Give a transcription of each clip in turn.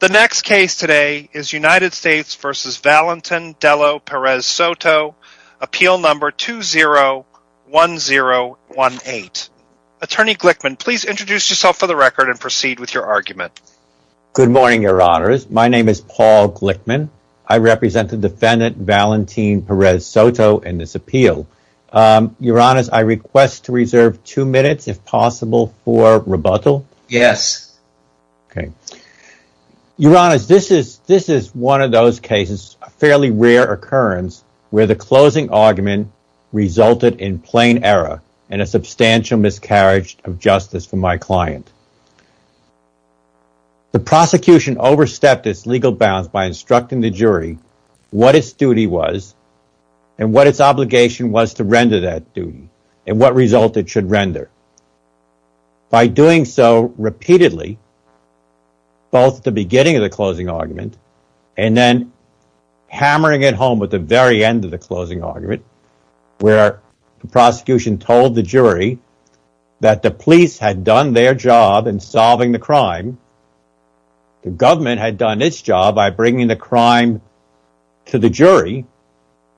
The next case today is United States v. Valentin Dello Perez Soto, Appeal No. 201018. Attorney Glickman, please introduce yourself for the record and proceed with your argument. Good morning, Your Honors. My name is Paul Glickman. I represent the defendant, Valentin Perez Soto, in this appeal. Your Honors, I request to reserve two minutes, if possible, for rebuttal. Your Honors, this is one of those cases, a fairly rare occurrence, where the closing argument resulted in plain error and a substantial miscarriage of justice for my client. The prosecution overstepped its legal bounds by instructing the jury what its duty was and what its obligation was to render that duty and what result it should render. By doing so repeatedly, both at the beginning of the closing argument and then hammering it home at the very end of the closing argument, where the prosecution told the jury that the police had done their job in solving the crime, the government had done its job by bringing the crime to the jury,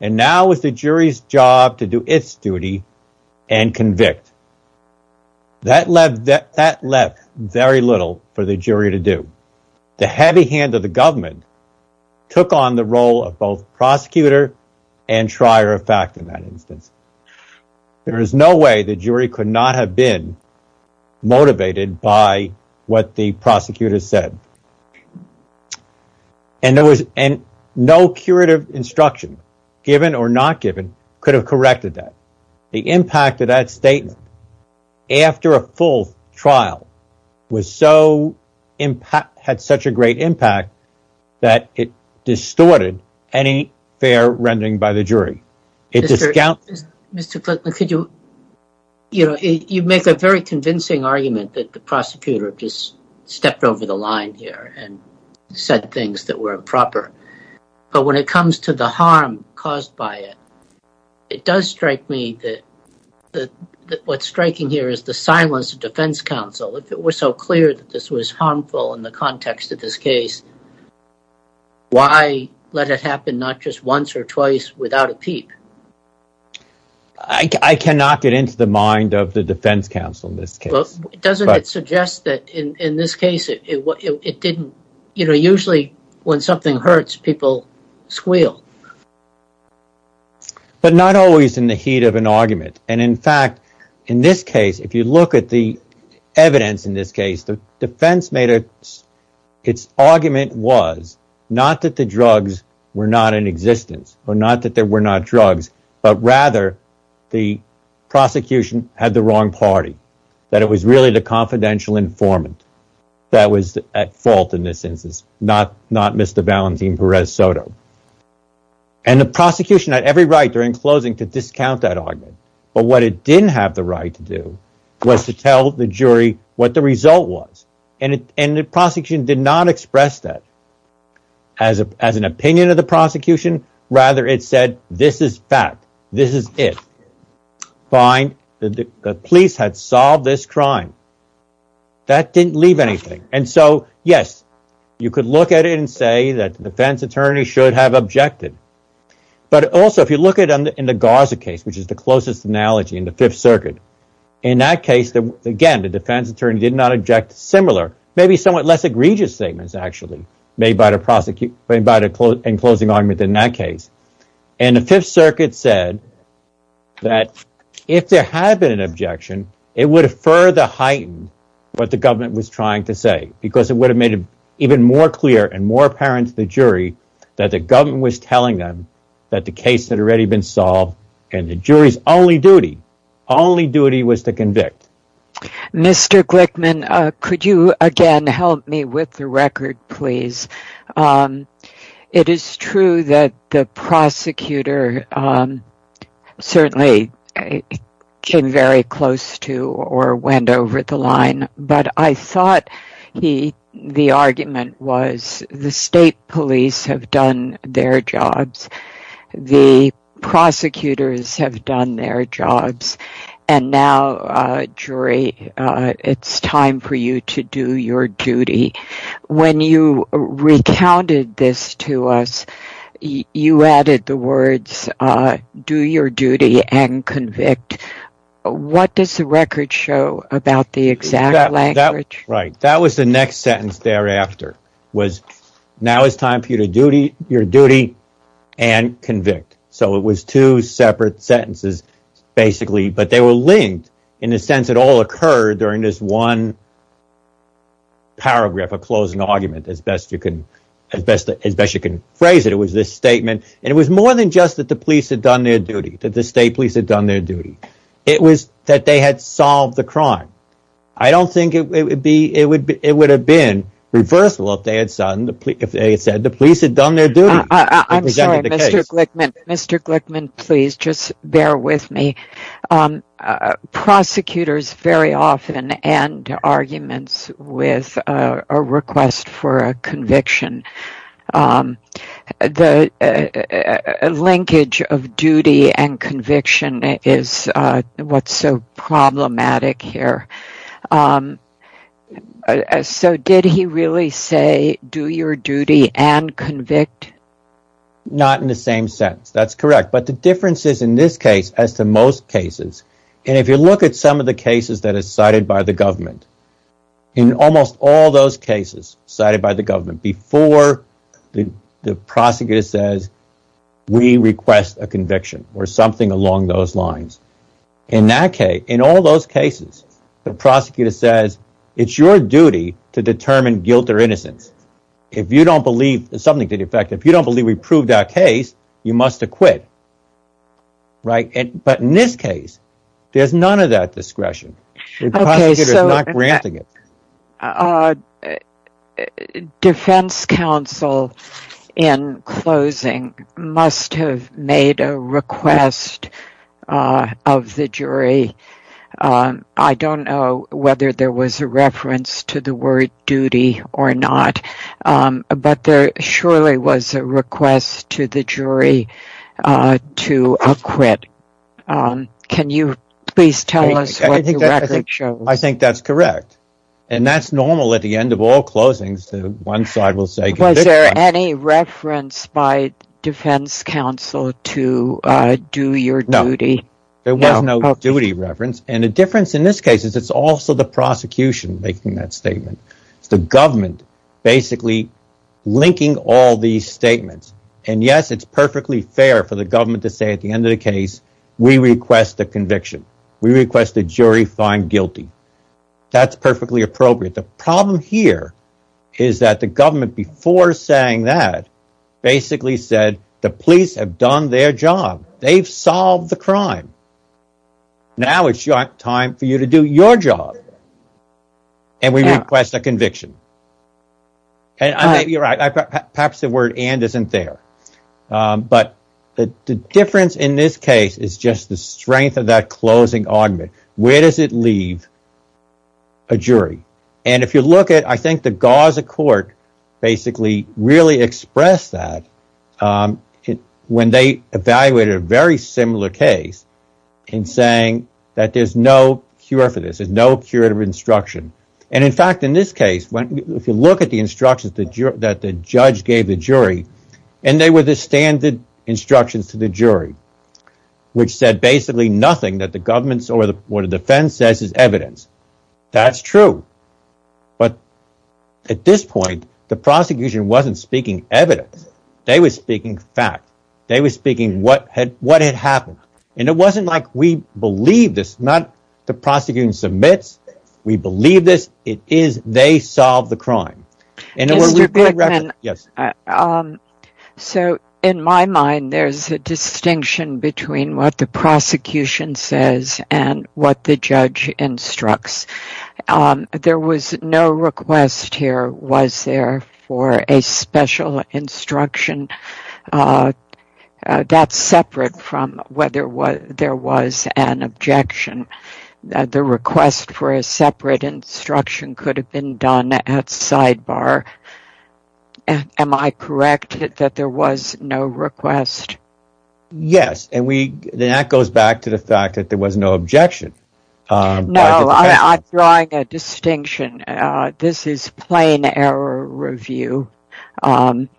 and now it's the jury's job to do its duty and convict. That left very little for the jury to do. The heavy hand of the government took on the role of both prosecutor and trier of fact in that instance. There is no way the jury could not have been motivated by what the prosecutor said. And there was no curative instruction, given or not given, could have corrected that. The impact of that statement after a full trial had such a great impact that it distorted any fair rendering by the jury. Mr. Glickman, you make a very convincing argument that the prosecutor just stepped over the line here and said things that were improper. But when it comes to the harm caused by it, it does strike me that what's striking here is the silence of defense counsel. If it were so clear that this was harmful in the context of this case, why let it happen not just once or twice without a peep? I cannot get into the mind of the defense counsel in this case. Doesn't it suggest that in this case, usually when something hurts, people squeal? But not always in the heat of an argument. In fact, in this case, if you look at the evidence, the defense made its argument was not that the drugs were not in existence or not that there were not drugs, but rather the prosecution had the wrong party, that it was really the confidential informant that was at fault in this instance, not Mr. Valentin Perez Soto. And the prosecution had every right during closing to discount that argument. But what it didn't have the right to do was to tell the jury what the result was. And the prosecution did not express that as an opinion of the prosecution. Rather, it said, this is fact. This is it. Fine. The police had solved this crime. That didn't leave anything. And so, yes, you could look at it and say that the defense attorney should have objected. But also, if you look at it in the Gaza case, which is the closest analogy in the Fifth Circuit, in that case, again, the defense attorney did not object. Similar, maybe somewhat less egregious statements actually made by the prosecution by the closing argument in that case. And the Fifth Circuit said that if there had been an objection, it would have further heightened what the government was trying to say, because it would have made it even more clear and more apparent to the jury that the government was telling them that the case had already been solved and the jury's only duty was to convict. Mr. Glickman, could you again help me with the record, please? It is true that the prosecutor certainly came very close to or went over the argument was the state police have done their jobs. The prosecutors have done their jobs. And now, jury, it's time for you to do your duty. When you recounted this to us, you added the words, do your duty and convict. What does the record show about the exact language? Right. That was the next sentence thereafter was now it's time for you to do your duty and convict. So it was two separate sentences, basically, but they were linked in the sense it all occurred during this one. Paragraph, a closing argument, as best you can, as best as best you can phrase it, it was this statement, and it was more than just that the police had done their duty, that the state police had done their duty. It was that they had solved the crime. I don't think it would be it would be it would have been reversible if they had said the police had done their duty. Mr. Glickman, please just bear with me. Prosecutors very often end arguments with a request for a conviction. The linkage of duty and conviction is what's so problematic here. So did he really say, do your duty and convict? Not in the same sense. That's correct. But the difference is, in this case, as to most cases, and if you look at some of the cases that are cited by the government, in almost all those cases cited by the government before the prosecutor says, we request a conviction or something along those lines. In that case, in all those cases, the prosecutor says, it's your duty to determine guilt or innocence. If you don't believe something to the effect, if you don't believe we proved that case, you must acquit. Right. But in this case, there's none of that discretion. The defense counsel, in closing, must have made a request of the jury. I don't know whether there was a reference to the word duty or not, but there surely was a request to the jury to acquit. Can you please tell us what the record shows? I think that's correct. And that's normal at the end of all closings. One side will say, was there any reference by defense counsel to do your duty? There was no duty reference. And the difference in this case is it's also the prosecution making that statement. It's the government basically linking all these statements. And yes, it's perfectly fair for the government to say at the end of the case, we request a conviction. We request the jury find guilty. That's perfectly appropriate. The problem here is that the government before saying that basically said the police have done their job. They've solved the question. And we request a conviction. And you're right. Perhaps the word and isn't there. But the difference in this case is just the strength of that closing argument. Where does it leave a jury? And if you look at I think the Gaza court basically really expressed that when they evaluated a very similar case in saying that there's no cure for this, there's no curative instruction. And in fact, in this case, if you look at the instructions that the judge gave the jury, and they were the standard instructions to the jury, which said basically nothing that the government or the defense says is evidence. That's true. But at this point, the prosecution wasn't speaking evidence. They were speaking fact. They were speaking what had what had happened. And it wasn't like we believe this, not the submits. We believe this. It is they solve the crime. And yes. So in my mind, there's a distinction between what the prosecution says and what the judge instructs. There was no request here was there for a special instruction that's separate from whether there was an objection. The request for a separate instruction could have been done at sidebar. Am I correct that there was no request? Yes. And that goes back to the fact that there was no objection. No, I'm drawing a distinction. This is plain error review.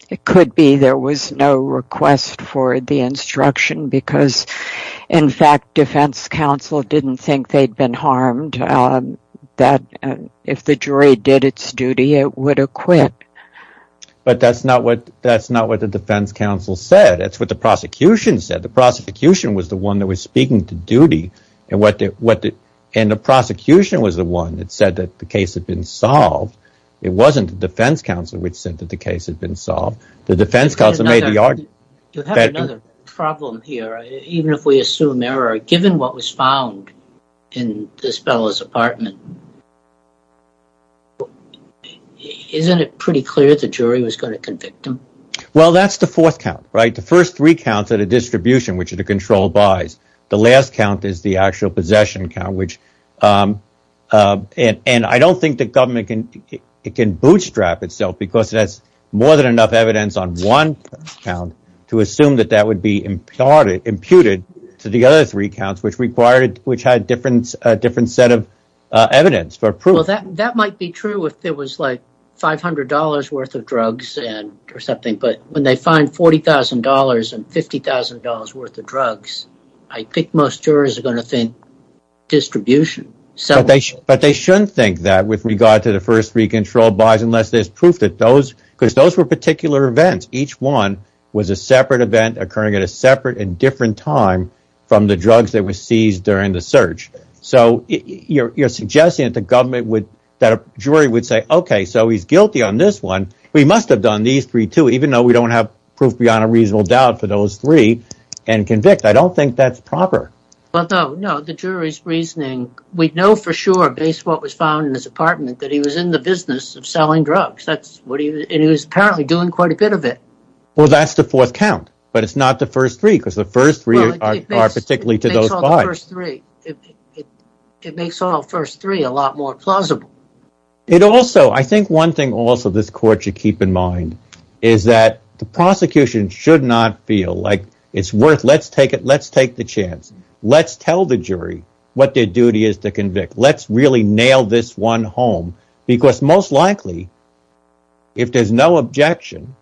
It could be there was no request for the instruction because, in fact, defense counsel didn't think they'd been harmed, that if the jury did its duty, it would acquit. But that's not what that's not what the defense counsel said. That's what the prosecution said. The prosecution was the one that was speaking to and the prosecution was the one that said that the case had been solved. It wasn't the defense counsel which said that the case had been solved. The defense counsel made the argument. You have another problem here, even if we assume error, given what was found in this fellow's apartment. Isn't it pretty clear the jury was going to convict him? Well, that's the fourth count, right? The first three counts at a distribution, which are the control buys. The last count is the actual possession count, which and I don't think the government can bootstrap itself because that's more than enough evidence on one count to assume that that would be imputed to the other three counts, which required it, which had a different set of evidence for approval. That might be true if it was like $500 worth of drugs or something. But when they find $40,000 and $50,000 worth of drugs, I think most jurors are going to think distribution. But they shouldn't think that with regard to the first three control buys unless there's proof that those because those were particular events. Each one was a separate event occurring at a separate and different time from the drugs that were seized during the search. So you're suggesting that the government would that a jury would say, OK, so he's guilty on this one. We must have done these three, too, even though we don't have proof beyond a reasonable doubt for those three and convict. I don't think that's proper. Well, no, no. The jury's reasoning. We know for sure based what was found in his apartment that he was in the business of selling drugs. That's what he and he was apparently doing quite a bit of it. Well, that's the fourth count. But it's not the more plausible. It also I think one thing also this court should keep in mind is that the prosecution should not feel like it's worth let's take it. Let's take the chance. Let's tell the jury what their duty is to convict. Let's really nail this one home, because most likely if there's no objection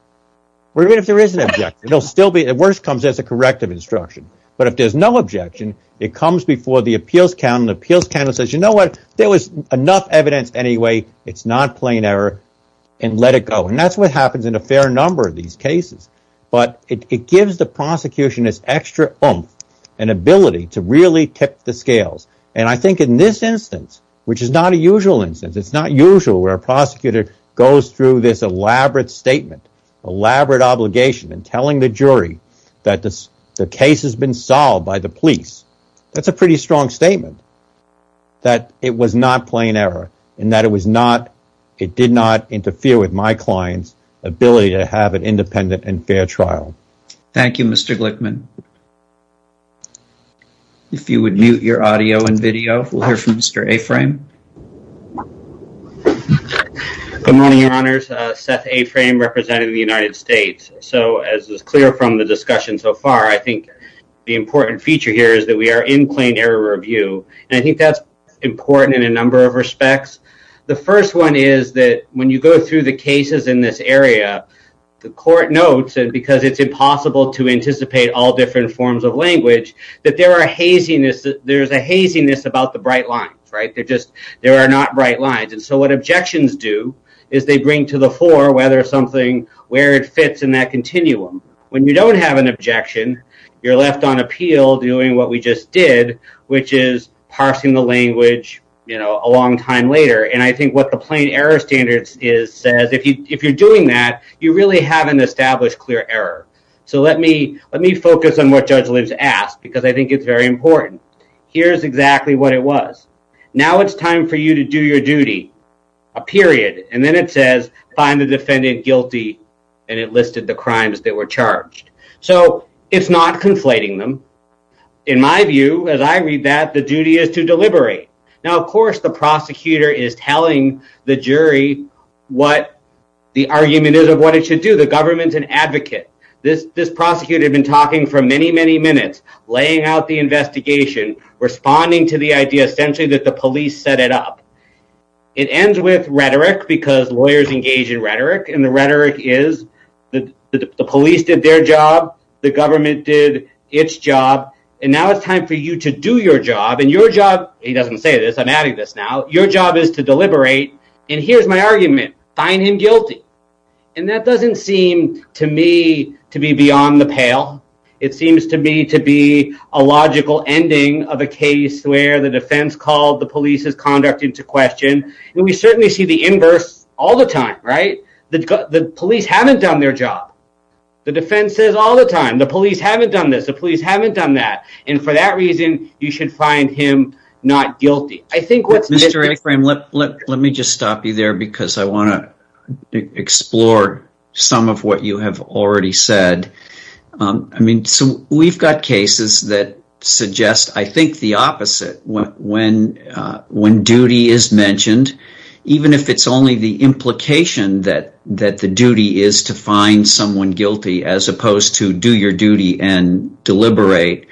or even if there is an object, it'll still be at worst comes as a corrective instruction. But if there's no objection, it comes before the appeals count. The appeals count says, there was enough evidence anyway. It's not plain error and let it go. And that's what happens in a fair number of these cases. But it gives the prosecution this extra oomph and ability to really tip the scales. And I think in this instance, which is not a usual instance, it's not usual where a prosecutor goes through this elaborate statement, elaborate obligation and telling the jury that the case has been solved by the police. That's a pretty strong statement that it was not plain error and that it was not, it did not interfere with my client's ability to have an independent and fair trial. Thank you, Mr. Glickman. If you would mute your audio and video, we'll hear from Mr. Aframe. Good morning, your honors. Seth Aframe representing the United States. So as is clear from the discussion so far, I think the important feature here is that we are in plain error review. And I think that's important in a number of respects. The first one is that when you go through the cases in this area, the court notes, and because it's impossible to anticipate all different forms of language, that there are haziness, there's a haziness about the bright lines, right? They're just, there are not bright lines. And so what objections do is they bring to the fore whether something, where it fits in that continuum. When you don't have an appeal doing what we just did, which is parsing the language, you know, a long time later. And I think what the plain error standards is says, if you're doing that, you really haven't established clear error. So let me focus on what Judge Lips asked, because I think it's very important. Here's exactly what it was. Now it's time for you to do your duty, a period. And then it says, find the defendant guilty. And it listed the crimes that were charged. So it's not conflating them. In my view, as I read that, the duty is to deliberate. Now, of course, the prosecutor is telling the jury what the argument is of what it should do. The government's an advocate. This prosecutor had been talking for many, many minutes, laying out the investigation, responding to the idea essentially that the police set it up. It ends with rhetoric, because lawyers engage in rhetoric. And the rhetoric is that the police did their job. The government did its job. And now it's time for you to do your job. And your job, he doesn't say this, I'm adding this now, your job is to deliberate. And here's my argument, find him guilty. And that doesn't seem to me to be beyond the pale. It seems to me to be a logical ending of a case where the defense called the police's conduct into question. And we certainly see the inverse all the time, right? The police haven't done their job. The defense says all the time, the police haven't done this, the police haven't done that. And for that reason, you should find him not guilty. I think what's... Mr. Akram, let me just stop you there, because I want to explore some of what you have already said. I mean, so duty is mentioned, even if it's only the implication that the duty is to find someone guilty, as opposed to do your duty and deliberate.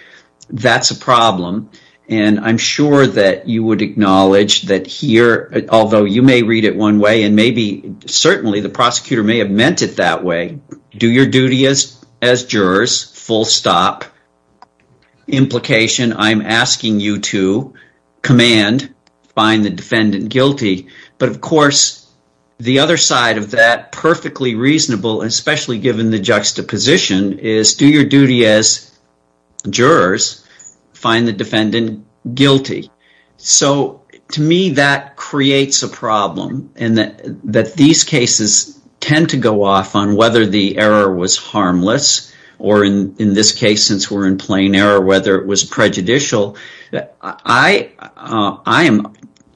That's a problem. And I'm sure that you would acknowledge that here, although you may read it one way, and maybe certainly the prosecutor may have meant it that way. Do your duty as jurors, full stop. Implication, I'm asking you to command, find the defendant guilty. But of course, the other side of that perfectly reasonable, especially given the juxtaposition, is do your duty as jurors, find the defendant guilty. So to me, that creates a problem, and that these cases tend to go off on whether the error was I am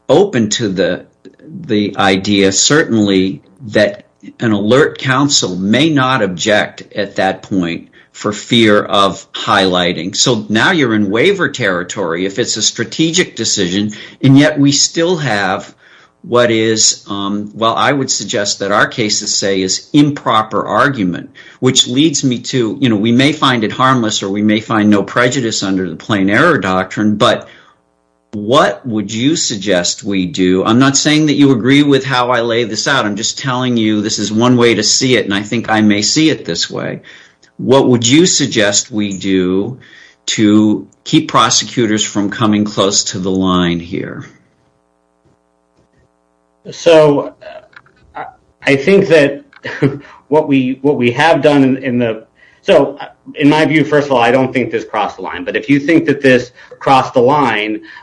open to the idea, certainly, that an alert counsel may not object at that point for fear of highlighting. So now you're in waiver territory, if it's a strategic decision, and yet we still have what is, well, I would suggest that our cases say is improper argument, which leads me to, you know, we may find it harmless, or we may find no prejudice under the plain error doctrine, but what would you suggest we do? I'm not saying that you agree with how I lay this out, I'm just telling you this is one way to see it, and I think I may see it this way. What would you suggest we do to keep prosecutors from coming close to the line here? So I think that what we have done in the... So in my view, first of all, I don't think this crossed the line.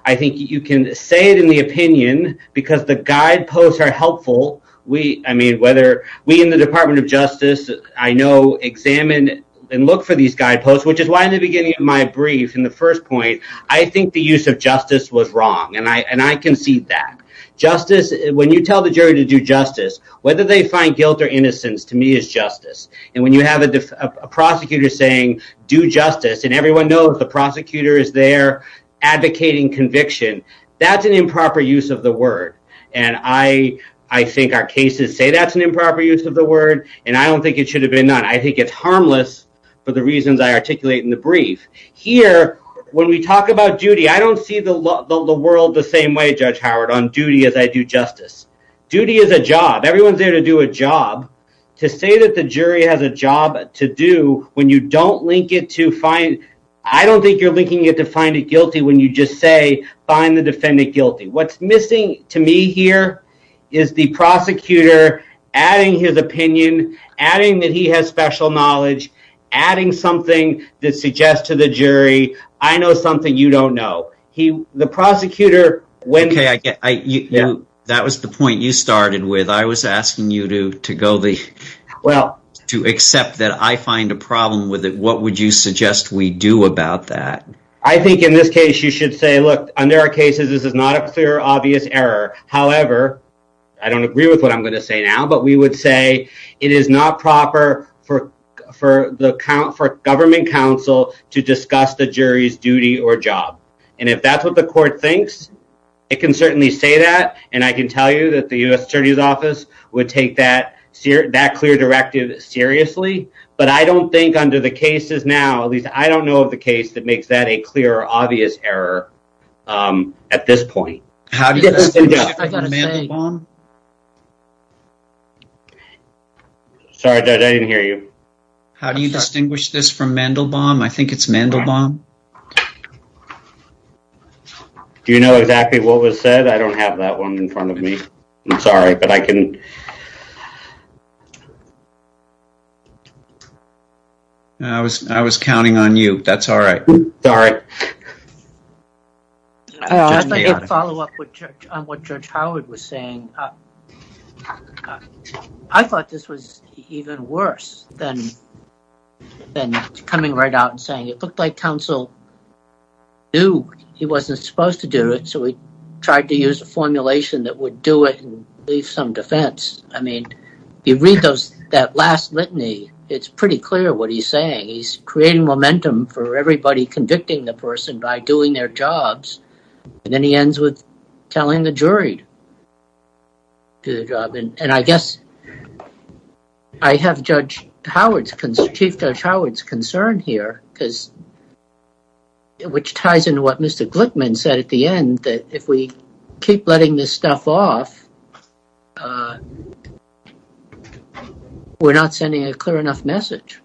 I think you can say it in the opinion, because the guideposts are helpful. I mean, whether we in the Department of Justice, I know, examine and look for these guideposts, which is why in the beginning of my brief, in the first point, I think the use of justice was wrong, and I concede that. Justice, when you tell the jury to do justice, whether they find guilt or innocence, to me is justice. And when you have a prosecutor saying, do justice, and everyone knows the prosecutor is there advocating conviction, that's an improper use of the word. And I think our cases say that's an improper use of the word, and I don't think it should have been done. I think it's harmless for the reasons I articulate in the brief. Here, when we talk about duty, I don't see the world the same way, Judge Howard, on duty as I do justice. Duty is a job. Everyone's there to do a job. To say that the jury has a job to do, when you don't link it to find, I don't think you're linking it to find it guilty when you just say, find the defendant guilty. What's missing to me here is the prosecutor adding his opinion, adding that he has special knowledge, adding something that suggests to the jury, I know something you don't know. The prosecutor, when... Okay, that was the point you started with. I was asking you to accept that I find a problem with it. What would you suggest we do about that? I think in this case, you should say, look, under our cases, this is not a clear, obvious error. However, I don't agree with what I'm going to say now, but we would say it is not proper for government counsel to discuss the court thinks. It can certainly say that, and I can tell you that the US Attorney's Office would take that clear directive seriously, but I don't think under the cases now, at least I don't know of the case that makes that a clear, obvious error at this point. Sorry, Judge, I didn't hear you. How do you distinguish this from Mandelbaum? I think it's Mandelbaum. Do you know exactly what was said? I don't have that one in front of me. I'm sorry, but I can... I was counting on you. That's all right. Sorry. I'd like to follow up on what Judge Howard was saying. I thought this was even worse than coming right out and saying it looked like counsel knew he wasn't supposed to do it, so he tried to use a formulation that would do it and leave some defense. I mean, you read that last litany, it's pretty clear what he's saying. He's creating momentum for everybody convicting the person by doing their jobs, and then he ends with telling the jury to do the job. I guess I have Chief Judge Howard's concern here, which ties into what Mr. Glickman said at the end, that if we keep letting this stuff off, we're not sending a clear enough message.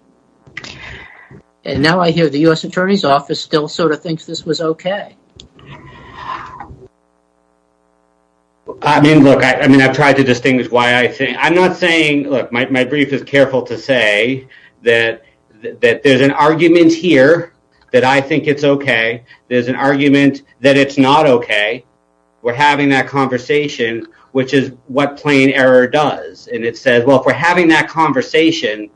Now I hear the U.S. Attorney's Office still sort of thinks this was okay. I mean, look, I've tried to distinguish why I think... I'm not saying... Look, my brief is careful to say that there's an argument here that I think it's okay. There's an argument that it's not okay. We're having that conversation, which is what plain error does, and it says, well, if we're having that conversation,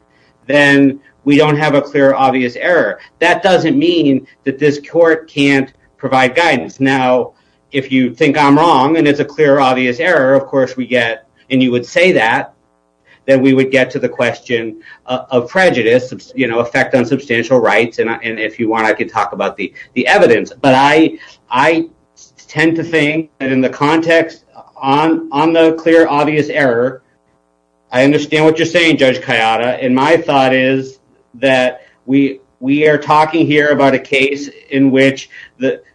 then we don't have a clear, obvious error. That doesn't mean that this court can't provide guidance. Now, if you think I'm wrong and it's a clear, obvious error, of course we get, and you would say that, then we would get to the question of prejudice, effect on substantial rights, and if you want, I could talk about the evidence, but I tend to think that in the context on the clear, obvious error, I understand what you're saying, Judge Kayada, and my thought is that we are talking here about a case in which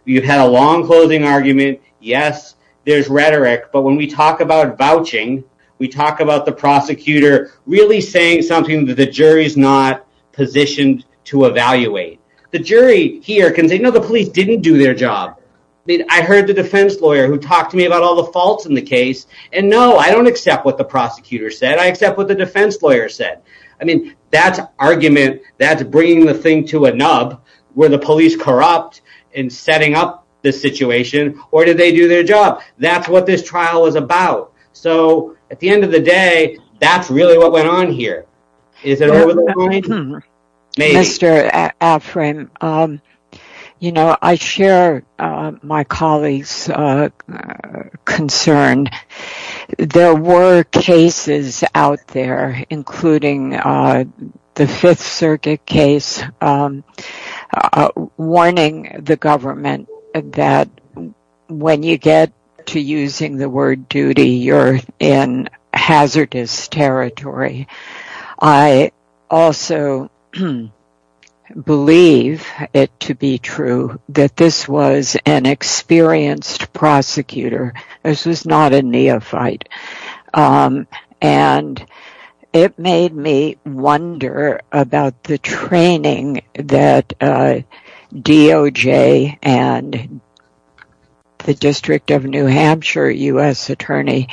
you've had a long-closing argument. Yes, there's rhetoric, but when we talk about vouching, we talk about the prosecutor really saying something that the jury's not positioned to evaluate. The jury here can say, no, the police didn't do their job. I mean, I heard the defense lawyer who talked to me about all the faults in the case, and no, I don't accept what the prosecutor said. I accept what the defense lawyer said. I mean, that's argument, that's bringing the thing to a nub. Were the police corrupt in setting up the situation, or did they do their job? That's what this trial is about. So, at the end of the day, that's really what went on here. Is that all right? Mr. Afrin, you know, I share my colleagues' concerns. There were cases out there, including the Fifth Circuit case, warning the government that when you get to using the word duty, you're in hazardous territory. I also believe it to be true that this was an experienced prosecutor. This was not a neophyte, and it made me wonder about the training that DOJ and the District of New Hampshire U.S. Attorney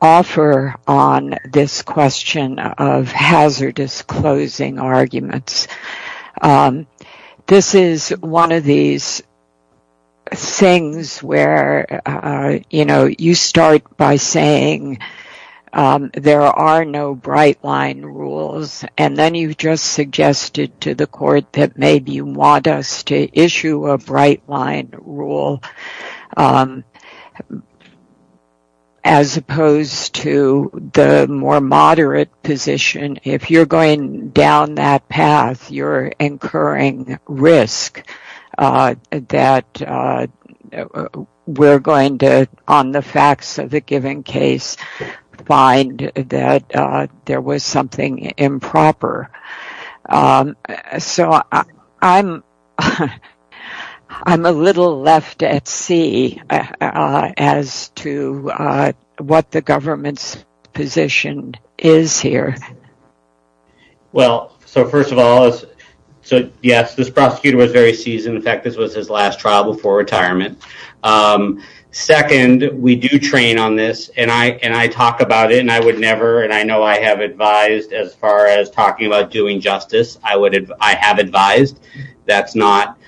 offer on this question of hazardous closing arguments. This is one of these things where, you know, you start by saying there are no bright line rules, and then you've just suggested to the court that maybe you want us to issue a bright line rule as opposed to the more moderate position. If you're going down that path, you're incurring risk that we're going to, on the facts of the given case, find that there was something improper. So, I'm a little left at sea as to what the government's position is here. Well, so first of all, yes, this prosecutor was very seasoned. In fact, this was his last trial before retirement. Second, we do train on this, and I talk about it, and I would never, and I know I have advised as far as talking about doing justice. I have advised. That's not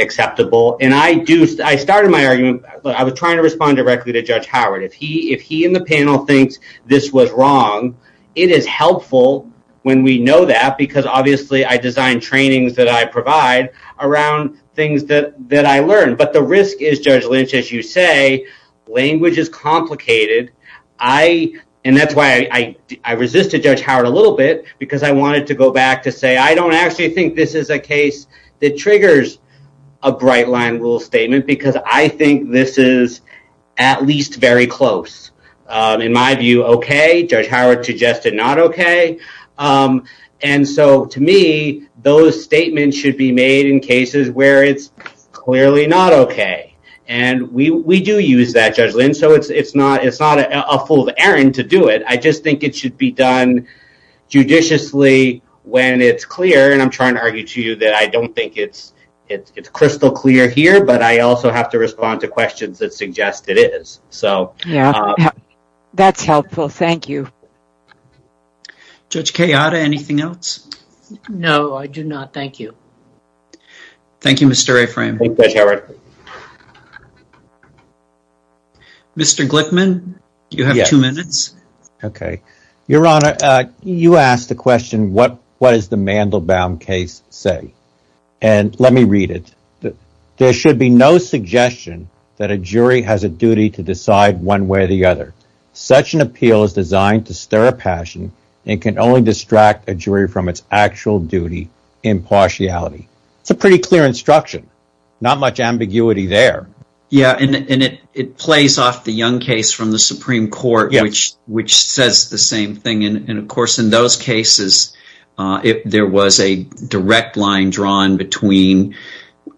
acceptable. I started my argument, but I was trying to respond directly to Judge Howard. If he in the panel thinks this was wrong, it is helpful when we know that because, obviously, I designed trainings that I provide around things that I learned, but the risk is, Judge Lynch, as you say, language is complicated. That's why I resisted Judge Howard a little bit because I wanted to go back to say, I don't actually think this is a case that triggers a bright line rule statement because I think this is at least very close. In my view, okay. Judge Howard suggested not okay. To me, those statements should be made in cases where it's clearly not okay. We do use that, Judge Lynch. It's not a fool of Aaron to do it. I just think it should be done judiciously when it's clear. I'm trying to argue to you that I don't think it's crystal clear here, but I also have to respond to questions that suggest it is. Yeah, that's helpful. Thank you. Judge Kayada, anything else? No, I do not. Thank you. Thank you, Mr. Aframe. Mr. Glickman, you have two minutes. Okay. Your Honor, you asked the question, what does the Mandelbaum case say? Let me read it. There should be no suggestion that a jury has a duty to decide one way or the other. Such an appeal is designed to stir a passion and can only distract a jury from its actual duty impartiality. It's a pretty clear instruction, not much ambiguity there. Yeah, and it plays off the Young case from the Supreme Court, which says the same thing. Of those cases, there was a direct line drawn between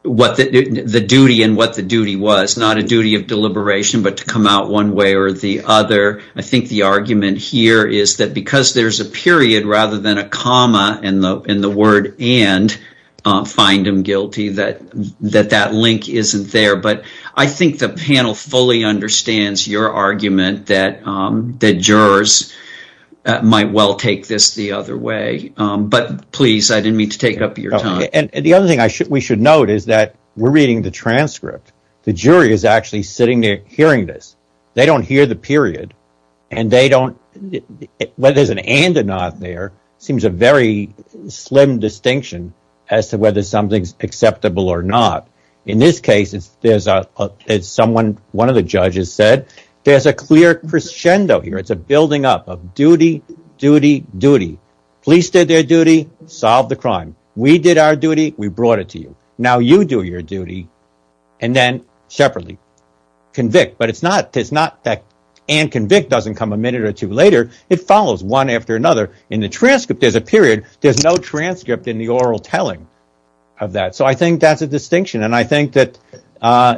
the duty and what the duty was. Not a duty of deliberation, but to come out one way or the other. I think the argument here is that because there's a period rather than a comma in the word and, find them guilty, that that link isn't there. But I think the panel fully understands your argument that the jurors might well take this the other way. But please, I didn't mean to take up your time. The other thing we should note is that we're reading the transcript. The jury is actually sitting there hearing this. They don't hear the period, and whether there's an and or not there seems a very slim distinction as to whether something's acceptable or not. In this case, as one of the judges said, there's a clear crescendo here. It's a building up of duty, duty, duty. Police did their duty, solved the crime. We did our duty, we brought it to you. Now you do your duty, and then separately convict. But it's not that and convict doesn't come a minute or two later. It follows one after another. In the transcript, there's a period. There's no transcript in the oral telling of that. So I think that's a distinction. I think that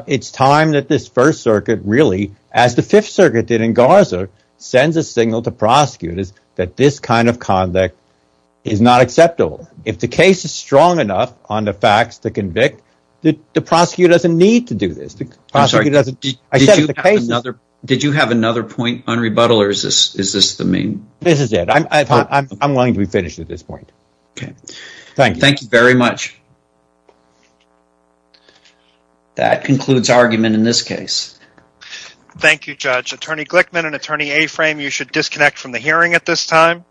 it's time that this First Circuit really, as the Fifth Circuit did in Garza, sends a signal to prosecutors that this kind of conduct is not acceptable. If the case is strong enough on the facts to convict, the prosecutor doesn't need to do this. Did you have another point on rebuttal, or is this the main? This is it. I'm willing to be finished at this point. Okay, thank you very much. That concludes argument in this case. Thank you, Judge. Attorney Glickman and Attorney Aframe, you should disconnect from the hearing at this time.